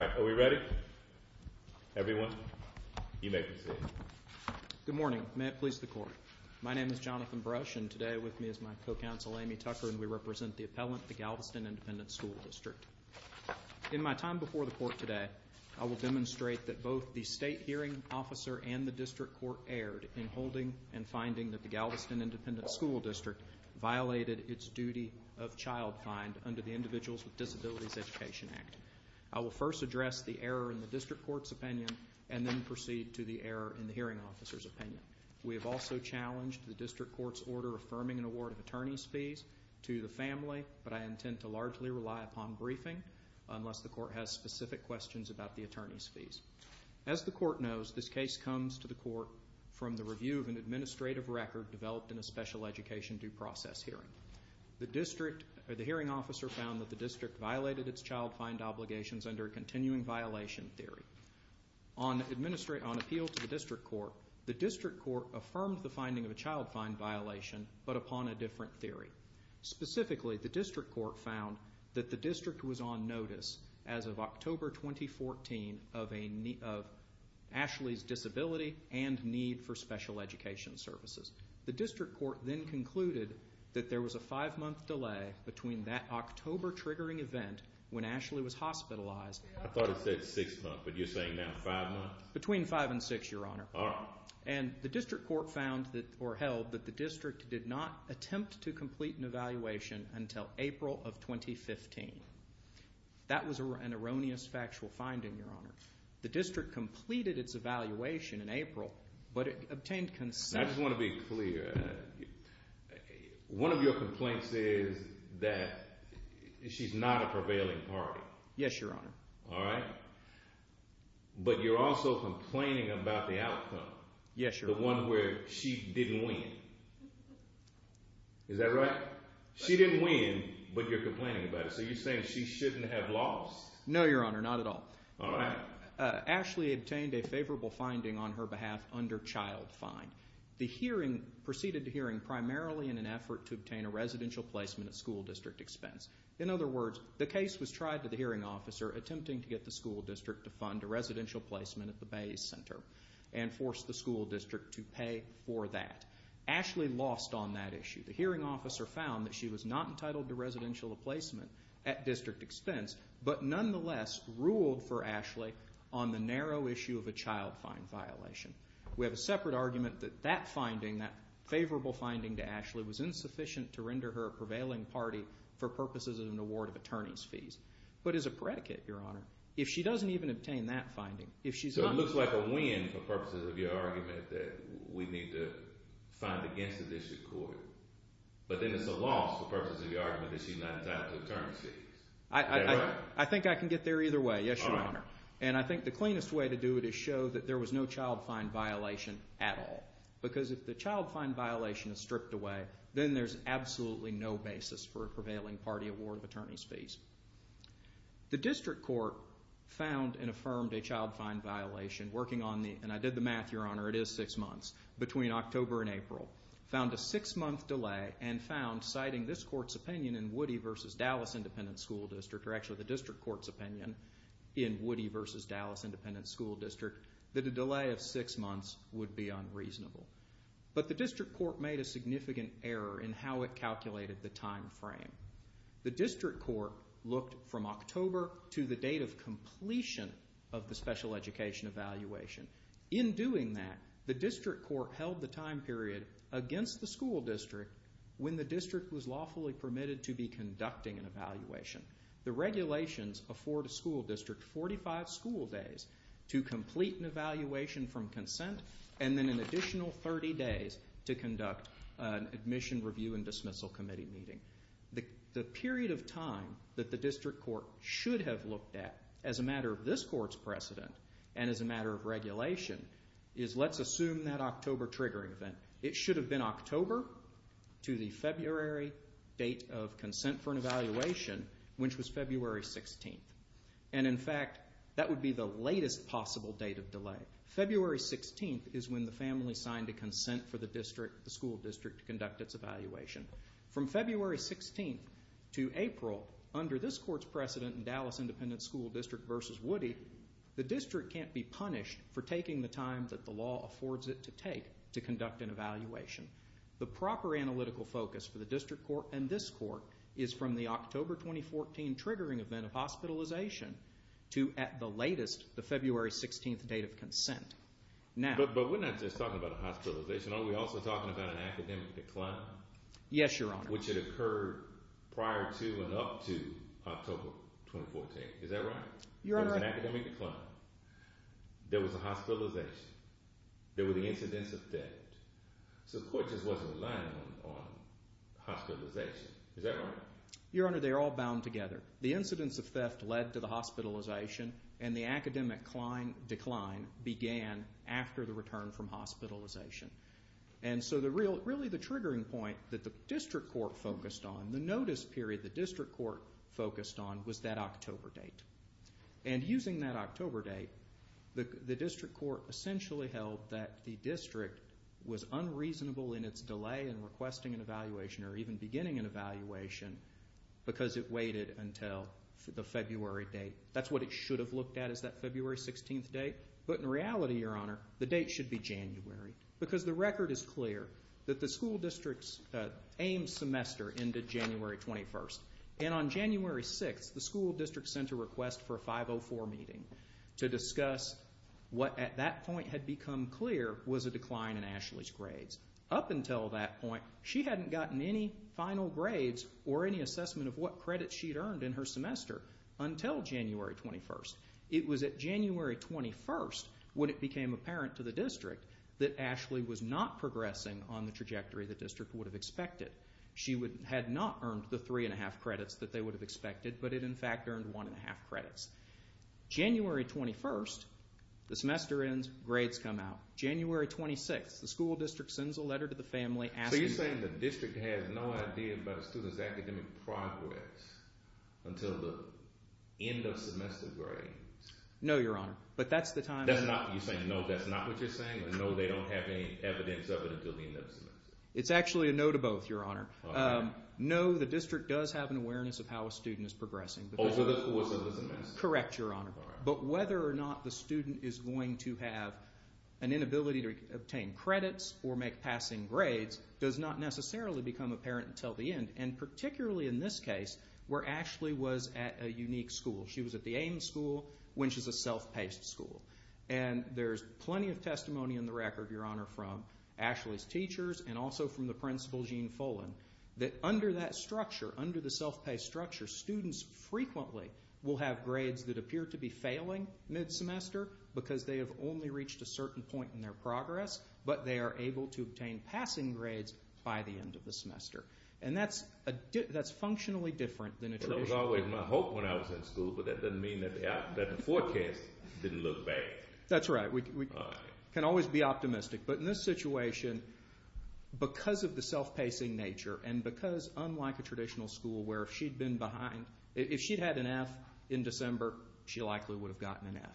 Are we ready? Everyone? You may proceed. Good morning. May it please the Court. My name is Jonathan Brush, and today with me is my co-counsel Amy Tucker, and we represent the appellant, the Galveston Independent School District. In my time before the Court today, I will demonstrate that both the State Hearing Officer and the District Court erred in holding and finding that the Galveston Independent School District violated its duty of child find under the Individuals with Disabilities Education Act. I will first address the error in the District Court's opinion and then proceed to the error in the Hearing Officer's opinion. We have also challenged the District Court's order affirming an award of attorney's fees to the family, but I intend to largely rely upon briefing unless the Court has specific questions about the attorney's fees. As the Court knows, this case comes to the Court from the review of an administrative record developed in a special education due process hearing. The District or the Hearing Officer found that the District violated its child find obligations under a continuing violation theory. On appeal to the District Court, the District Court affirmed the finding of a child find violation but upon a different theory. Specifically, the District Court found that the District was on notice as of October 2014 of Ashley's disability and need for special education services. The District Court then concluded that there was a five-month delay between that October triggering event when Ashley was hospitalized. I thought it said six months, but you're saying now five months? Between five and six, Your Honor. All right. And the District Court found or held that the District did not attempt to complete an evaluation until April of 2015. That was an erroneous factual finding, Your Honor. The District completed its evaluation in April, but it obtained consent. I just want to be clear. One of your complaints is that she's not a prevailing party. Yes, Your Honor. All right. But you're also complaining about the outcome. Yes, Your Honor. The one where she didn't win. Is that right? She didn't win, but you're complaining about it. So you're saying she shouldn't have lost. No, Your Honor. Not at all. All right. Ashley obtained a favorable finding on her behalf under child fine. The hearing proceeded to hearing primarily in an effort to obtain a residential placement at school district expense. In other words, the case was tried to the hearing officer attempting to get the school district to fund a residential placement at the Bay Center and force the school district to pay for that. Ashley lost on that issue. The hearing officer found that she was not entitled to residential placement at district expense, but nonetheless ruled for Ashley on the narrow issue of a child fine violation. We have a separate argument that that finding, that favorable finding to Ashley, was insufficient to render her a prevailing party for purposes of an award of attorney's fees. But as a predicate, Your Honor, if she doesn't even obtain that finding, if she's not… But then it's a loss for purposes of the argument that she's not entitled to attorney's fees. Is that right? I think I can get there either way. Yes, Your Honor. And I think the cleanest way to do it is show that there was no child fine violation at all. Because if the child fine violation is stripped away, then there's absolutely no basis for a prevailing party award of attorney's fees. The district court found and affirmed a child fine violation working on the—and I did the math, Your Honor. It is six months. Between October and April, found a six-month delay and found, citing this court's opinion in Woody v. Dallas Independent School District, or actually the district court's opinion in Woody v. Dallas Independent School District, that a delay of six months would be unreasonable. But the district court made a significant error in how it calculated the time frame. The district court looked from October to the date of completion of the special education evaluation. In doing that, the district court held the time period against the school district when the district was lawfully permitted to be conducting an evaluation. The regulations afford a school district 45 school days to complete an evaluation from consent and then an additional 30 days to conduct an admission review and dismissal committee meeting. The period of time that the district court should have looked at as a matter of this court's precedent and as a matter of regulation is let's assume that October triggering event. It should have been October to the February date of consent for an evaluation, which was February 16th. And, in fact, that would be the latest possible date of delay. February 16th is when the family signed a consent for the school district to conduct its evaluation. From February 16th to April, under this court's precedent in Dallas Independent School District v. Woody, the district can't be punished for taking the time that the law affords it to take to conduct an evaluation. The proper analytical focus for the district court and this court is from the October 2014 triggering event of hospitalization to at the latest the February 16th date of consent. But we're not just talking about a hospitalization. Are we also talking about an academic decline? Yes, Your Honor. Which had occurred prior to and up to October 2014. Is that right? Your Honor. There was an academic decline. There was a hospitalization. There were the incidents of theft. So the court just wasn't relying on hospitalization. Is that right? Your Honor, they're all bound together. The incidents of theft led to the hospitalization and the academic decline began after the return from hospitalization. And so really the triggering point that the district court focused on, the notice period the district court focused on was that October date. And using that October date, the district court essentially held that the district was unreasonable in its delay in requesting an evaluation or even beginning an evaluation because it waited until the February date. That's what it should have looked at is that February 16th date. But in reality, Your Honor, the date should be January. Because the record is clear that the school district's AIMS semester ended January 21st. And on January 6th, the school district sent a request for a 504 meeting to discuss what at that point had become clear was a decline in Ashley's grades. Up until that point, she hadn't gotten any final grades or any assessment of what credits she'd earned in her semester until January 21st. It was at January 21st when it became apparent to the district that Ashley was not progressing on the trajectory the district would have expected. She had not earned the three-and-a-half credits that they would have expected, but it in fact earned one-and-a-half credits. January 21st, the semester ends, grades come out. January 26th, the school district sends a letter to the family asking... No, Your Honor, but that's the time... It's actually a no to both, Your Honor. No, the district does have an awareness of how a student is progressing. Correct, Your Honor. But whether or not the student is going to have an inability to obtain credits or make passing grades does not necessarily become apparent until the end. And particularly in this case, where Ashley was at a unique school. She was at the Aims School, which is a self-paced school. And there's plenty of testimony in the record, Your Honor, from Ashley's teachers and also from the principal, Gene Fullen, that under that structure, under the self-paced structure, students frequently will have grades that appear to be failing mid-semester because they have only reached a certain point in their progress, but they are able to obtain passing grades by the end of the semester. And that's functionally different than a traditional... That was always my hope when I was in school, but that doesn't mean that the forecast didn't look bad. That's right. We can always be optimistic. But in this situation, because of the self-pacing nature and because, unlike a traditional school, where if she'd been behind, if she'd had an F in December, she likely would have gotten an F.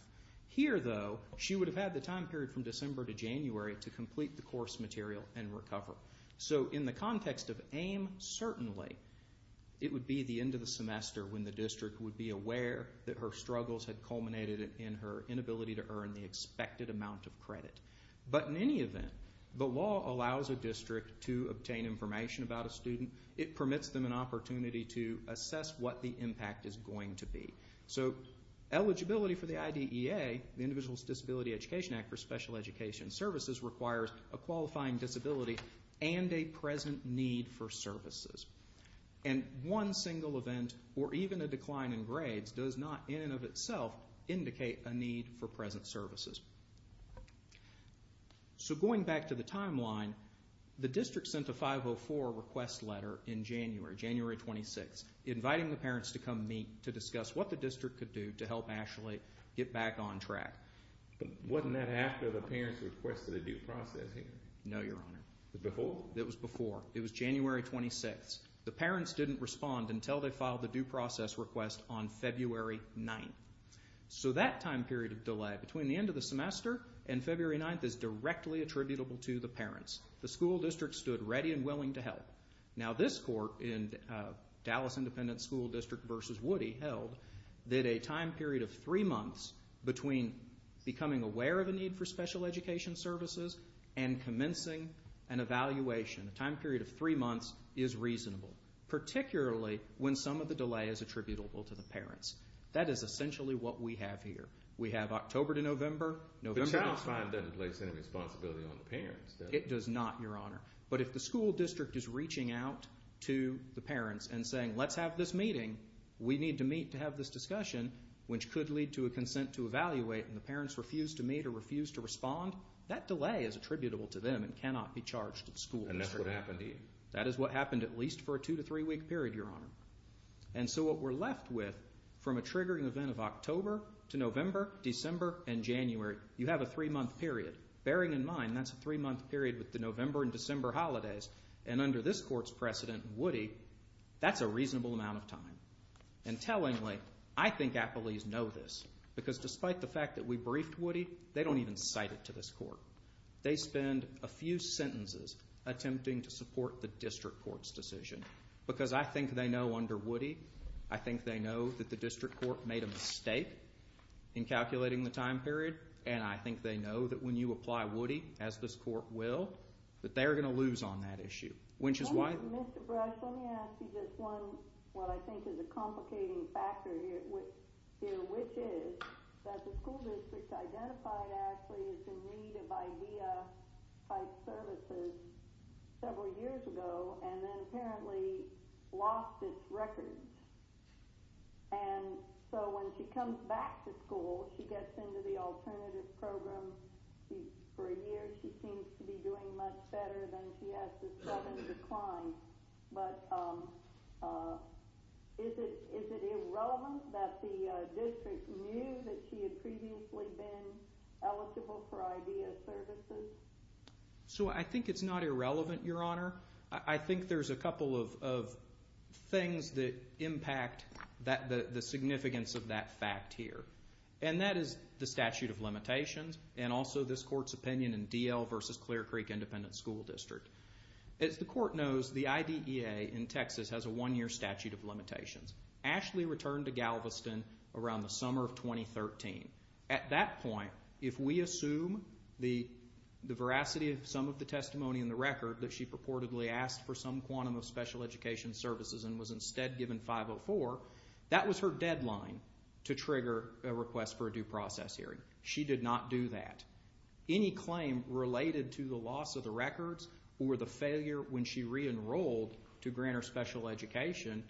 Here, though, she would have had the time period from December to January to complete the course material and recover. So in the context of AIM, certainly it would be the end of the semester when the district would be aware that her struggles had culminated in her inability to earn the expected amount of credit. But in any event, the law allows a district to obtain information about a student. It permits them an opportunity to assess what the impact is going to be. So eligibility for the IDEA, the Individuals with Disabilities Education Act for Special Education Services, requires a qualifying disability and a present need for services. And one single event or even a decline in grades does not, in and of itself, indicate a need for present services. So going back to the timeline, the district sent a 504 request letter in January, January 26, inviting the parents to come meet to discuss what the district could do to help Ashley get back on track. But wasn't that after the parents requested a due process hearing? No, Your Honor. It was before? It was before. It was January 26. The parents didn't respond until they filed the due process request on February 9. So that time period of delay between the end of the semester and February 9 is directly attributable to the parents. The school district stood ready and willing to help. Now this court in Dallas Independent School District v. Woody held that a time period of three months between becoming aware of a need for special education services and commencing an evaluation, a time period of three months, is reasonable, particularly when some of the delay is attributable to the parents. That is essentially what we have here. We have October to November. The child's fine doesn't place any responsibility on the parents, does it? It does not, Your Honor. But if the school district is reaching out to the parents and saying, let's have this meeting, we need to meet to have this discussion, which could lead to a consent to evaluate and the parents refuse to meet or refuse to respond, that delay is attributable to them and cannot be charged to the school district. And that's what happened to you? That is what happened at least for a two- to three-week period, Your Honor. And so what we're left with from a triggering event of October to November, December, and January, you have a three-month period. Bearing in mind that's a three-month period with the November and December holidays, and under this Court's precedent, Woody, that's a reasonable amount of time. And tellingly, I think appellees know this because despite the fact that we briefed Woody, they don't even cite it to this Court. They spend a few sentences attempting to support the district court's decision because I think they know under Woody, I think they know that the district court made a mistake in calculating the time period, and I think they know that when you apply Woody, as this Court will, that they are going to lose on that issue. Mr. Brush, let me ask you just one, what I think is a complicating factor here, which is that the school district identified Ashley as in need of IDEA-type services several years ago and then apparently lost its records. And so when she comes back to school, she gets into the alternative program. For a year, she seems to be doing much better than she has since having declined. But is it irrelevant that the district knew that she had previously been eligible for IDEA services? So I think it's not irrelevant, Your Honor. I think there's a couple of things that impact the significance of that fact here, and that is the statute of limitations and also this Court's opinion in D.L. v. Clear Creek Independent School District. As the Court knows, the IDEA in Texas has a one-year statute of limitations. Ashley returned to Galveston around the summer of 2013. At that point, if we assume the veracity of some of the testimony in the record that she purportedly asked for some quantum of special education services and was instead given 504, that was her deadline to trigger a request for a due process hearing. She did not do that. Any claim related to the loss of the records or the failure when she re-enrolled to grant her special education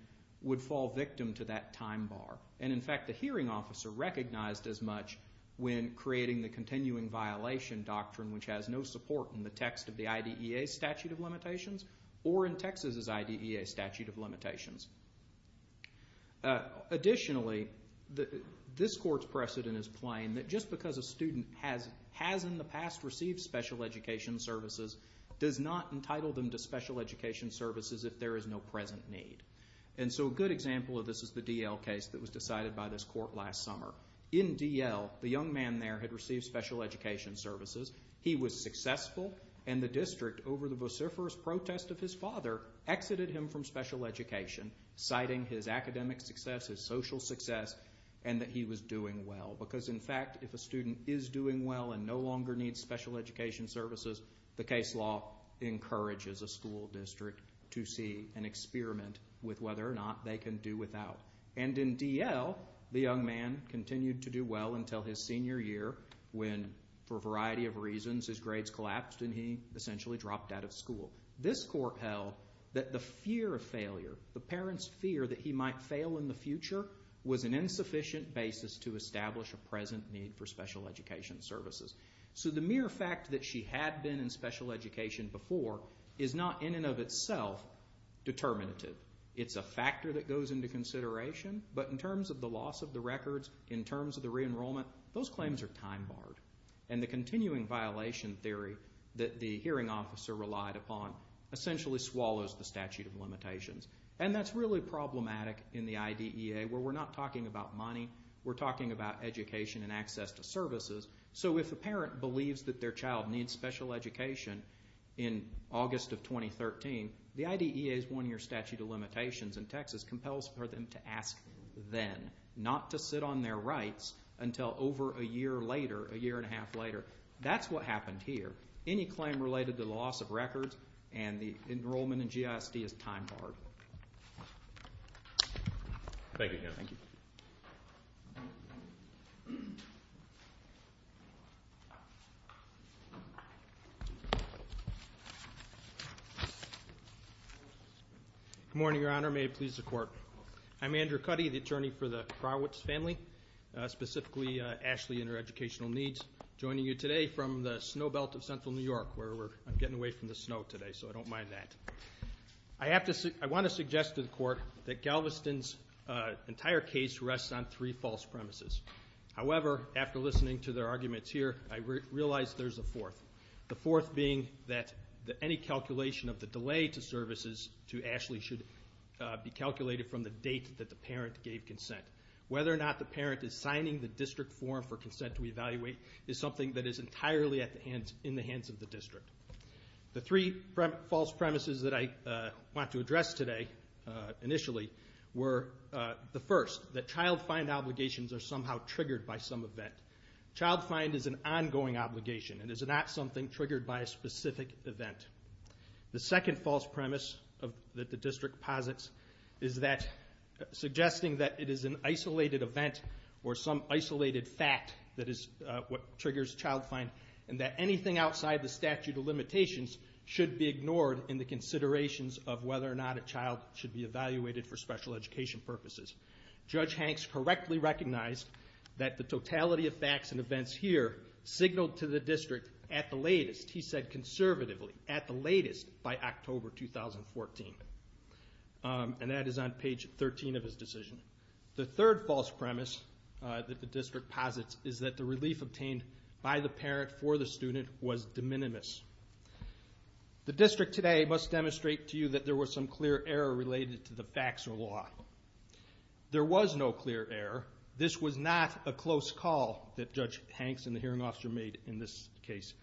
would fall victim to that time bar. And, in fact, the hearing officer recognized as much when creating the continuing violation doctrine, which has no support in the text of the IDEA statute of limitations or in Texas' IDEA statute of limitations. Additionally, this Court's precedent is plain that just because a student has in the past received special education services does not entitle them to special education services if there is no present need. And so a good example of this is the D.L. case that was decided by this Court last summer. In D.L., the young man there had received special education services. He was successful, and the district, over the vociferous protest of his father, exited him from special education, citing his academic success, his social success, and that he was doing well. Because, in fact, if a student is doing well and no longer needs special education services, the case law encourages a school district to see and experiment with whether or not they can do without. And in D.L., the young man continued to do well until his senior year when, for a variety of reasons, his grades collapsed and he essentially dropped out of school. This Court held that the fear of failure, the parents' fear that he might fail in the future, was an insufficient basis to establish a present need for special education services. So the mere fact that she had been in special education before is not in and of itself determinative. It's a factor that goes into consideration. But in terms of the loss of the records, in terms of the re-enrollment, those claims are time-barred. And the continuing violation theory that the hearing officer relied upon essentially swallows the statute of limitations. And that's really problematic in the IDEA, where we're not talking about money. We're talking about education and access to services. So if a parent believes that their child needs special education in August of 2013, the IDEA's one-year statute of limitations in Texas compels for them to ask then not to sit on their rights until over a year later, a year and a half later. That's what happened here. Any claim related to the loss of records and the enrollment in GISD is time-barred. Thank you. Good morning, Your Honor. May it please the Court. I'm Andrew Cuddy, the attorney for the Krawitz family, specifically Ashley and her educational needs, joining you today from the snow belt of central New York, where we're getting away from the snow today, so I don't mind that. I want to suggest to the Court that Galveston's entire case rests on three false premises. However, after listening to their arguments here, I realize there's a fourth, the fourth being that any calculation of the delay to services to Ashley should be calculated from the date that the parent gave consent. Whether or not the parent is signing the district form for consent to evaluate is something that is entirely in the hands of the district. The three false premises that I want to address today initially were the first, that child find obligations are somehow triggered by some event. Child find is an ongoing obligation. It is not something triggered by a specific event. The second false premise that the district posits is that suggesting that it is an isolated event or some isolated fact that is what triggers child find, and that anything outside the statute of limitations should be ignored in the considerations of whether or not a child should be evaluated for special education purposes. Judge Hanks correctly recognized that the totality of facts and events here signaled to the district at the latest, he said conservatively, at the latest by October 2014. And that is on page 13 of his decision. The third false premise that the district posits is that the relief obtained by the parent for the student was de minimis. The district today must demonstrate to you that there was some clear error related to the facts or law. There was no clear error. This was not a close call that Judge Hanks and the hearing officer made in this case.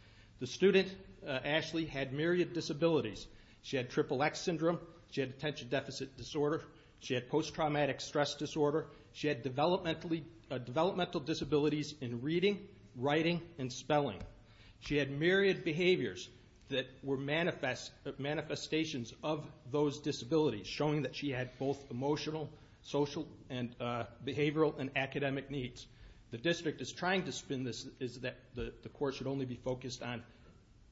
The student, Ashley, had myriad disabilities. She had triple X syndrome. She had attention deficit disorder. She had post-traumatic stress disorder. She had developmental disabilities in reading, writing, and spelling. She had myriad behaviors that were manifestations of those disabilities, showing that she had both emotional, social, behavioral, and academic needs. The district is trying to spin this that the court should only be focused on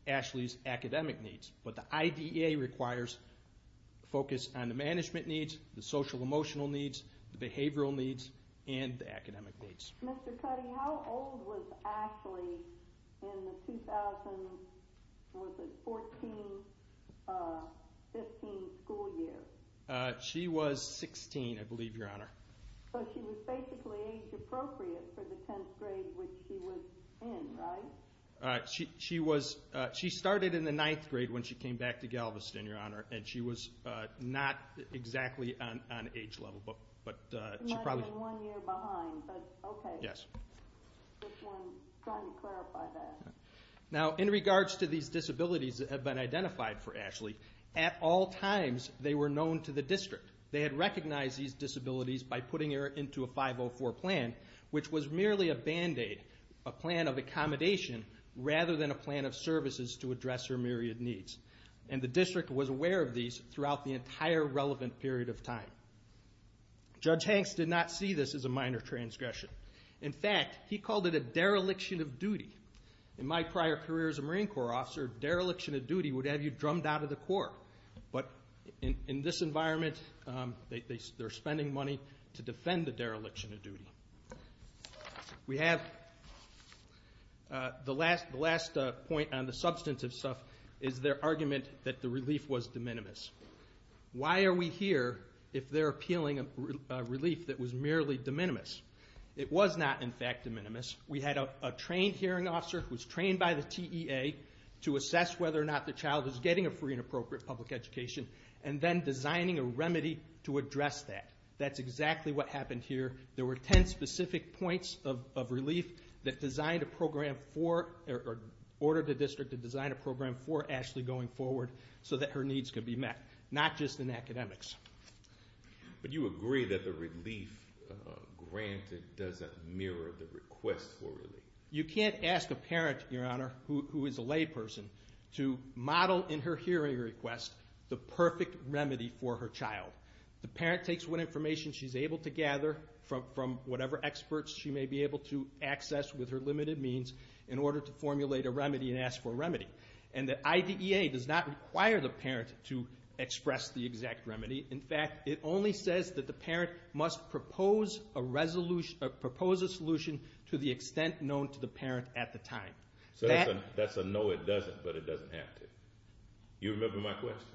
Ashley's academic needs, but the IDEA requires focus on the management needs, the social-emotional needs, the behavioral needs, and the academic needs. Mr. Cuddy, how old was Ashley in the 2014-15 school year? She was 16, I believe, Your Honor. So she was basically age appropriate for the 10th grade, which she was in, right? She started in the 9th grade when she came back to Galveston, Your Honor, and she was not exactly on age level. She might have been one year behind, but okay. Just wanted to clarify that. Now, in regards to these disabilities that have been identified for Ashley, at all times they were known to the district. They had recognized these disabilities by putting her into a 504 plan, which was merely a Band-Aid, a plan of accommodation, rather than a plan of services to address her myriad needs. And the district was aware of these throughout the entire relevant period of time. Judge Hanks did not see this as a minor transgression. In fact, he called it a dereliction of duty. In my prior career as a Marine Corps officer, dereliction of duty would have you drummed out of the Corps. But in this environment, they're spending money to defend the dereliction of duty. We have the last point on the substantive stuff is their argument that the relief was de minimis. Why are we here if they're appealing a relief that was merely de minimis? It was not, in fact, de minimis. We had a trained hearing officer who was trained by the TEA to assess whether or not the child was getting a free and appropriate public education, and then designing a remedy to address that. That's exactly what happened here. There were ten specific points of relief that ordered the district to design a program for Ashley going forward so that her needs could be met, not just in academics. But you agree that the relief granted doesn't mirror the request for relief. You can't ask a parent, Your Honor, who is a layperson, to model in her hearing request the perfect remedy for her child. The parent takes what information she's able to gather from whatever experts she may be able to access with her limited means in order to formulate a remedy and ask for a remedy. And the IDEA does not require the parent to express the exact remedy. In fact, it only says that the parent must propose a solution to the extent known to the parent at the time. So that's a no, it doesn't, but it doesn't have to. You remember my question.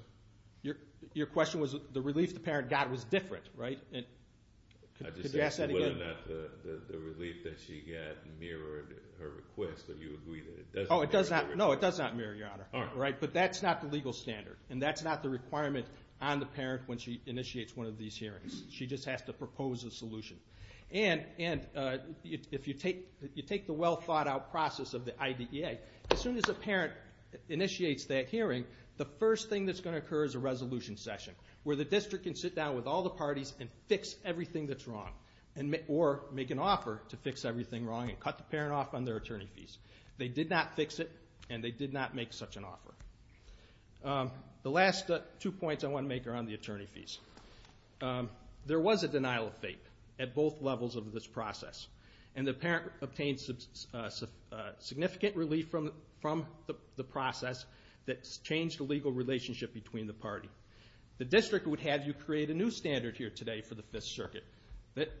Your question was the relief the parent got was different, right? Could you ask that again? I just asked whether or not the relief that she got mirrored her request, but you agree that it doesn't mirror the request. No, it does not mirror, Your Honor, but that's not the legal standard, and that's not the requirement on the parent when she initiates one of these hearings. She just has to propose a solution. And if you take the well-thought-out process of the IDEA, as soon as a parent initiates that hearing, the first thing that's going to occur is a resolution session where the district can sit down with all the parties and fix everything that's wrong or make an offer to fix everything wrong and cut the parent off on their attorney fees. They did not fix it, and they did not make such an offer. The last two points I want to make are on the attorney fees. There was a denial of fate at both levels of this process, and the parent obtained significant relief from the process that changed the legal relationship between the party. The district would have you create a new standard here today for the Fifth Circuit.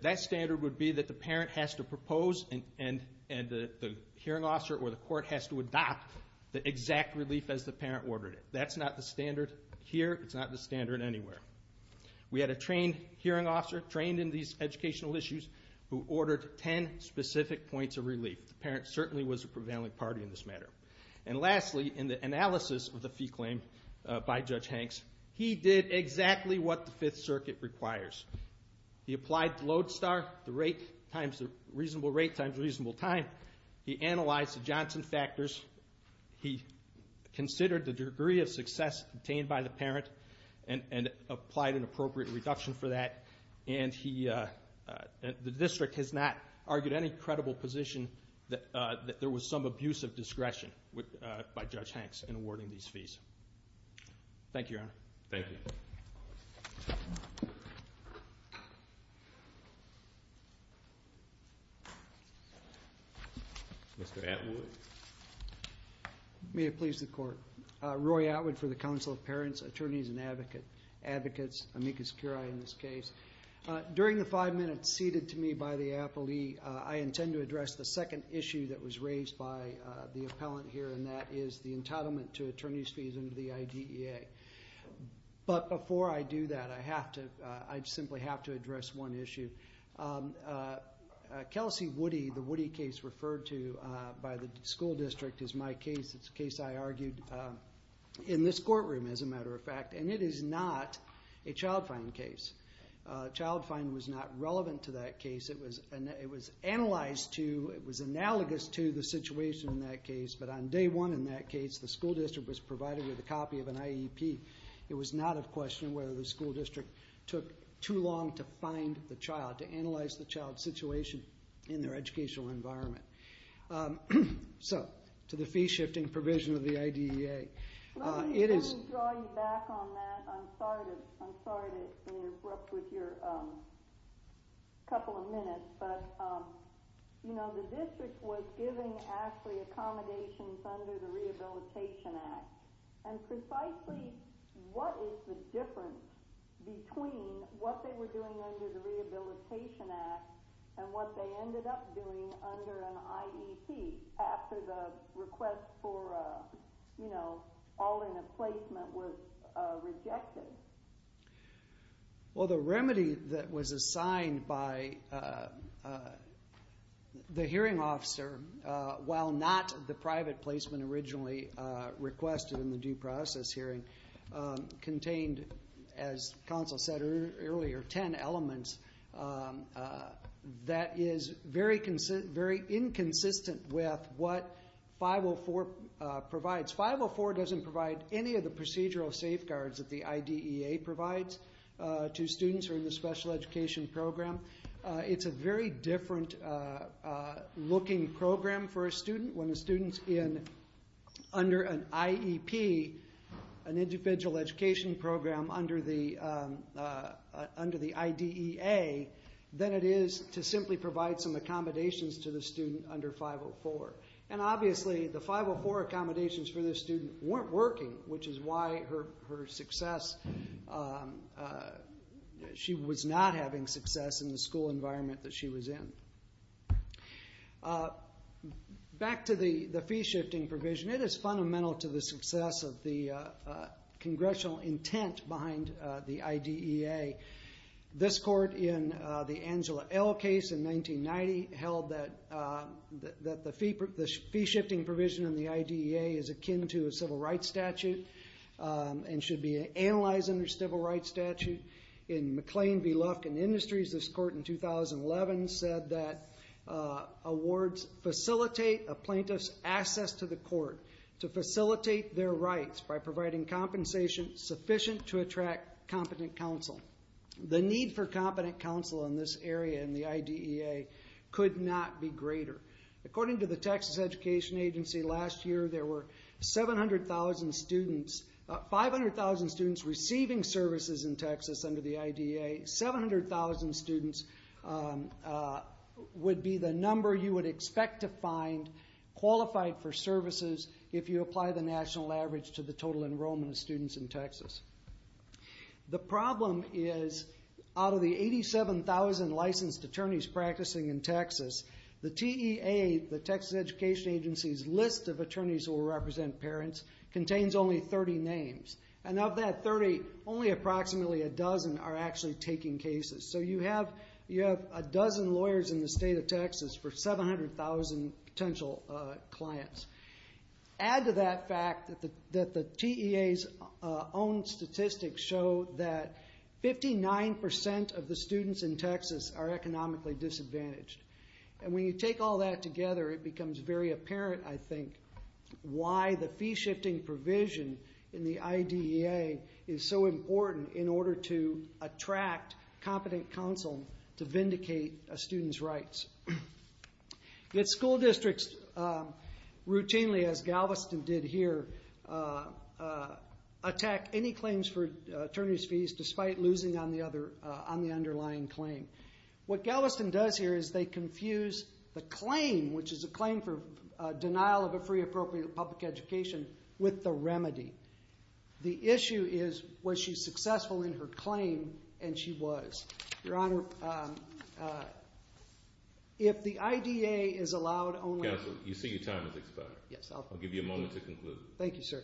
That standard would be that the parent has to propose and the hearing officer or the court has to adopt the exact relief as the parent ordered it. That's not the standard here. It's not the standard anywhere. We had a trained hearing officer, trained in these educational issues, who ordered 10 specific points of relief. The parent certainly was a prevailing party in this matter. And lastly, in the analysis of the fee claim by Judge Hanks, he did exactly what the Fifth Circuit requires. He applied Lodestar, the rate times the reasonable rate times reasonable time. He analyzed the Johnson factors. He considered the degree of success obtained by the parent and applied an appropriate reduction for that. And the district has not argued any credible position that there was some abusive discretion by Judge Hanks in awarding these fees. Thank you, Your Honor. Thank you. Mr. Atwood. May it please the Court. Roy Atwood for the Council of Parents, Attorneys, and Advocates, amicus curiae in this case. During the five minutes ceded to me by the appellee, I intend to address the second issue that was raised by the appellant here, and that is the entitlement to attorney's fees under the IDEA. But before I do that, I simply have to address one issue. Kelsey Woody, the Woody case referred to by the school district, is my case. It's a case I argued in this courtroom, as a matter of fact, and it is not a child fine case. Child fine was not relevant to that case. It was analyzed to, it was analogous to the situation in that case, but on day one in that case, the school district was provided with a copy of an IEP. It was not of question whether the school district took too long to find the child, to analyze the child's situation in their educational environment. So, to the fee-shifting provision of the IDEA. Let me draw you back on that. I'm sorry to interrupt with your couple of minutes, but, you know, the district was giving Ashley accommodations under the Rehabilitation Act, and precisely what is the difference between what they were doing under the Rehabilitation Act and what they ended up doing under an IEP, after the request for, you know, all in a placement was rejected? Well, the remedy that was assigned by the hearing officer, while not the private placement originally requested in the due process hearing, contained, as counsel said earlier, ten elements. That is very inconsistent with what 504 provides. 504 doesn't provide any of the procedural safeguards that the IDEA provides to students who are in the special education program. It's a very different looking program for a student when a student's in, under an IEP, an individual education program under the IDEA, than it is to simply provide some accommodations to the student under 504. And, obviously, the 504 accommodations for this student weren't working, which is why her success, she was not having success in the school environment that she was in. Back to the fee-shifting provision. It is fundamental to the success of the congressional intent behind the IDEA. This court, in the Angela L. case in 1990, held that the fee-shifting provision in the IDEA is akin to a civil rights statute and should be analyzed under a civil rights statute. In McLean v. Lufkin Industries, this court in 2011 said that awards facilitate a plaintiff's access to the court to facilitate their rights by providing compensation sufficient to attract competent counsel. The need for competent counsel in this area in the IDEA could not be greater. According to the Texas Education Agency, last year there were 500,000 students receiving services in Texas under the IDEA. 700,000 students would be the number you would expect to find qualified for services if you apply the national average to the total enrollment of students in Texas. The problem is, out of the 87,000 licensed attorneys practicing in Texas, the TEA, the Texas Education Agency's list of attorneys who will represent parents, contains only 30 names. And of that 30, only approximately a dozen are actually taking cases. So you have a dozen lawyers in the state of Texas for 700,000 potential clients. Add to that fact that the TEA's own statistics show that 59% of the students in Texas are economically disadvantaged. And when you take all that together, it becomes very apparent, I think, why the fee-shifting provision in the IDEA is so important in order to attract competent counsel to vindicate a student's rights. Yet school districts routinely, as Galveston did here, attack any claims for attorneys' fees despite losing on the underlying claim. What Galveston does here is they confuse the claim, which is a claim for denial of a free, appropriate public education, with the remedy. The issue is was she successful in her claim, and she was. Your Honor, if the IDEA is allowed only... Counsel, you see your time has expired. Yes. I'll give you a moment to conclude. Thank you, sir.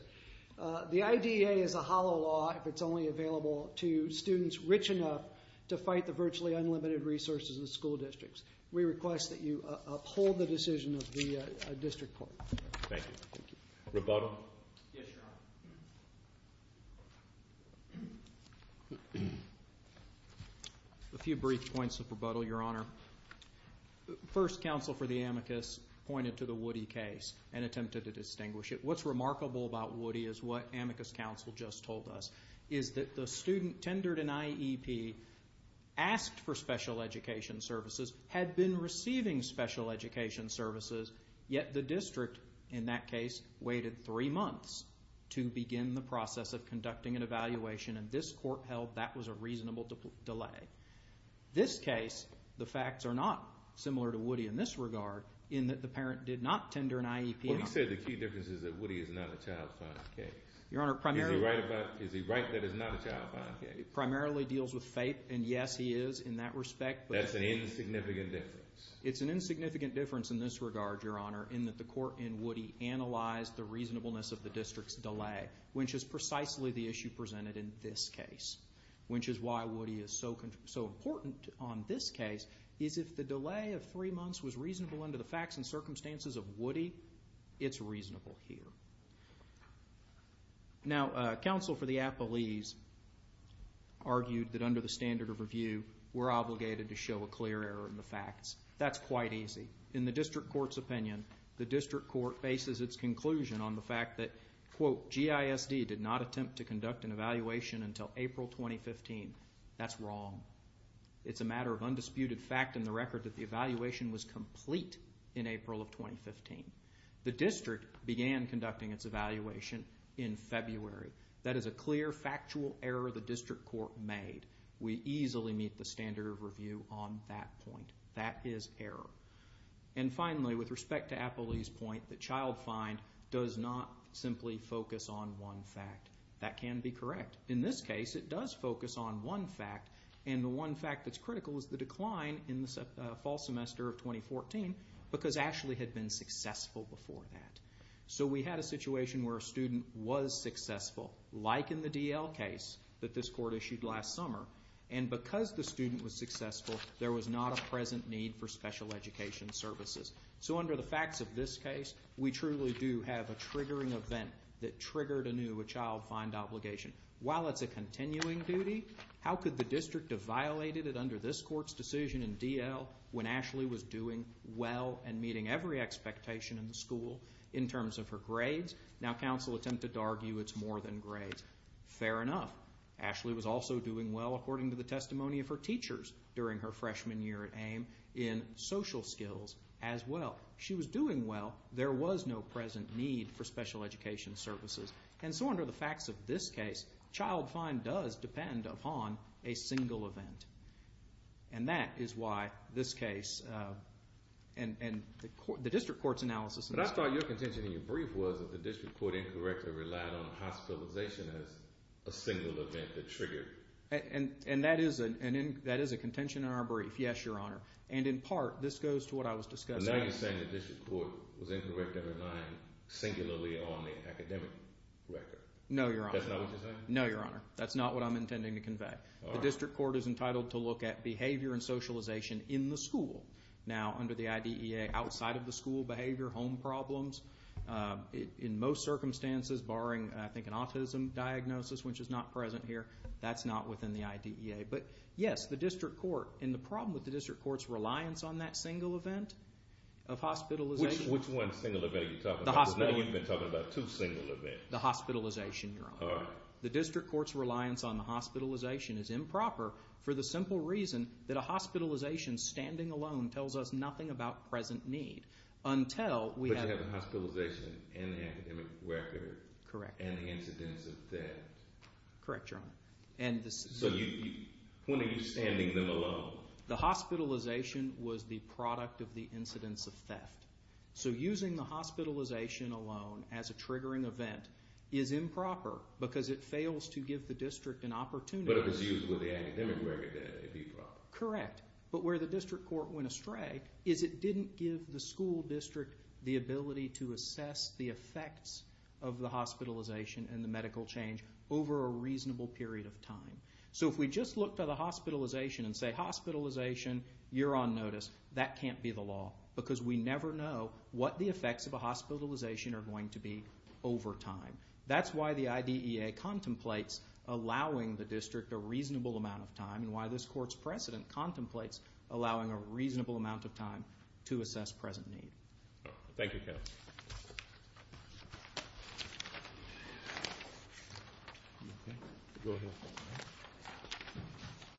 The IDEA is a hollow law if it's only available to students rich enough to fight the virtually unlimited resources of the school districts. We request that you uphold the decision of the district court. Thank you. Thank you. Rebuttal? Yes, Your Honor. A few brief points of rebuttal, Your Honor. First, counsel for the amicus pointed to the Woody case and attempted to distinguish it. What's remarkable about Woody is what amicus counsel just told us, is that the student tendered an IEP, asked for special education services, had been receiving special education services, yet the district, in that case, waited three months to begin the process of conducting an evaluation, and this court held that was a reasonable delay. This case, the facts are not similar to Woody in this regard, in that the parent did not tender an IEP. Well, you said the key difference is that Woody is not a child fine case. Your Honor, primarily... Is he right that he's not a child fine case? Primarily deals with fate, and, yes, he is in that respect. That's an insignificant difference. It's an insignificant difference in this regard, Your Honor, in that the court in Woody analyzed the reasonableness of the district's delay, which is precisely the issue presented in this case, which is why Woody is so important on this case, is if the delay of three months was reasonable under the facts and circumstances of Woody, it's reasonable here. Now, counsel for the appellees argued that under the standard of review, we're obligated to show a clear error in the facts. That's quite easy. In the district court's opinion, the district court faces its conclusion on the fact that, quote, GISD did not attempt to conduct an evaluation until April 2015. That's wrong. It's a matter of undisputed fact in the record that the evaluation was complete in April of 2015. The district began conducting its evaluation in February. That is a clear, factual error the district court made. We easily meet the standard of review on that point. That is error. And finally, with respect to appellee's point, the child fine does not simply focus on one fact. That can be correct. In this case, it does focus on one fact, and the one fact that's critical is the decline in the fall semester of 2014 because Ashley had been successful before that. So we had a situation where a student was successful, like in the D.L. case that this court issued last summer, and because the student was successful, there was not a present need for special education services. So under the facts of this case, we truly do have a triggering event that triggered anew a child fine obligation. While it's a continuing duty, how could the district have violated it under this court's decision in D.L. when Ashley was doing well and meeting every expectation in the school in terms of her grades? Now, counsel attempted to argue it's more than grades. Fair enough. Ashley was also doing well according to the testimony of her teachers during her freshman year at AIM in social skills as well. She was doing well. There was no present need for special education services. And so under the facts of this case, child fine does depend upon a single event, and that is why this case and the district court's analysis of this case. But I thought your contention in your brief was that the district court incorrectly relied on hospitalization as a single event that triggered. And that is a contention in our brief, yes, Your Honor. And in part, this goes to what I was discussing. And now you're saying the district court was incorrect in relying singularly on the academic record. No, Your Honor. That's not what you're saying? No, Your Honor. That's not what I'm intending to convey. All right. The district court is entitled to look at behavior and socialization in the school. Now, under the IDEA, outside of the school behavior, home problems, in most circumstances barring, I think, an autism diagnosis, which is not present here, that's not within the IDEA. But, yes, the district court and the problem with the district court's reliance on that single event of hospitalization. Which one single event are you talking about? The hospitalization. You've been talking about two single events. The hospitalization, Your Honor. All right. Well, the district court's reliance on the hospitalization is improper for the simple reason that a hospitalization standing alone tells us nothing about present need until we have... But you have a hospitalization and an academic record. Correct. And the incidence of theft. Correct, Your Honor. So when are you standing them alone? The hospitalization was the product of the incidence of theft. So using the hospitalization alone as a triggering event is improper because it fails to give the district an opportunity. But if it's used with the academic record, then it'd be proper. Correct. But where the district court went astray is it didn't give the school district the ability to assess the effects of the hospitalization and the medical change over a reasonable period of time. So if we just look to the hospitalization and say, hospitalization, you're on notice, that can't be the law because we never know what the effects of a hospitalization are going to be over time. That's why the IDEA contemplates allowing the district a reasonable amount of time and why this court's precedent contemplates allowing a reasonable amount of time to assess present need. Thank you, counsel.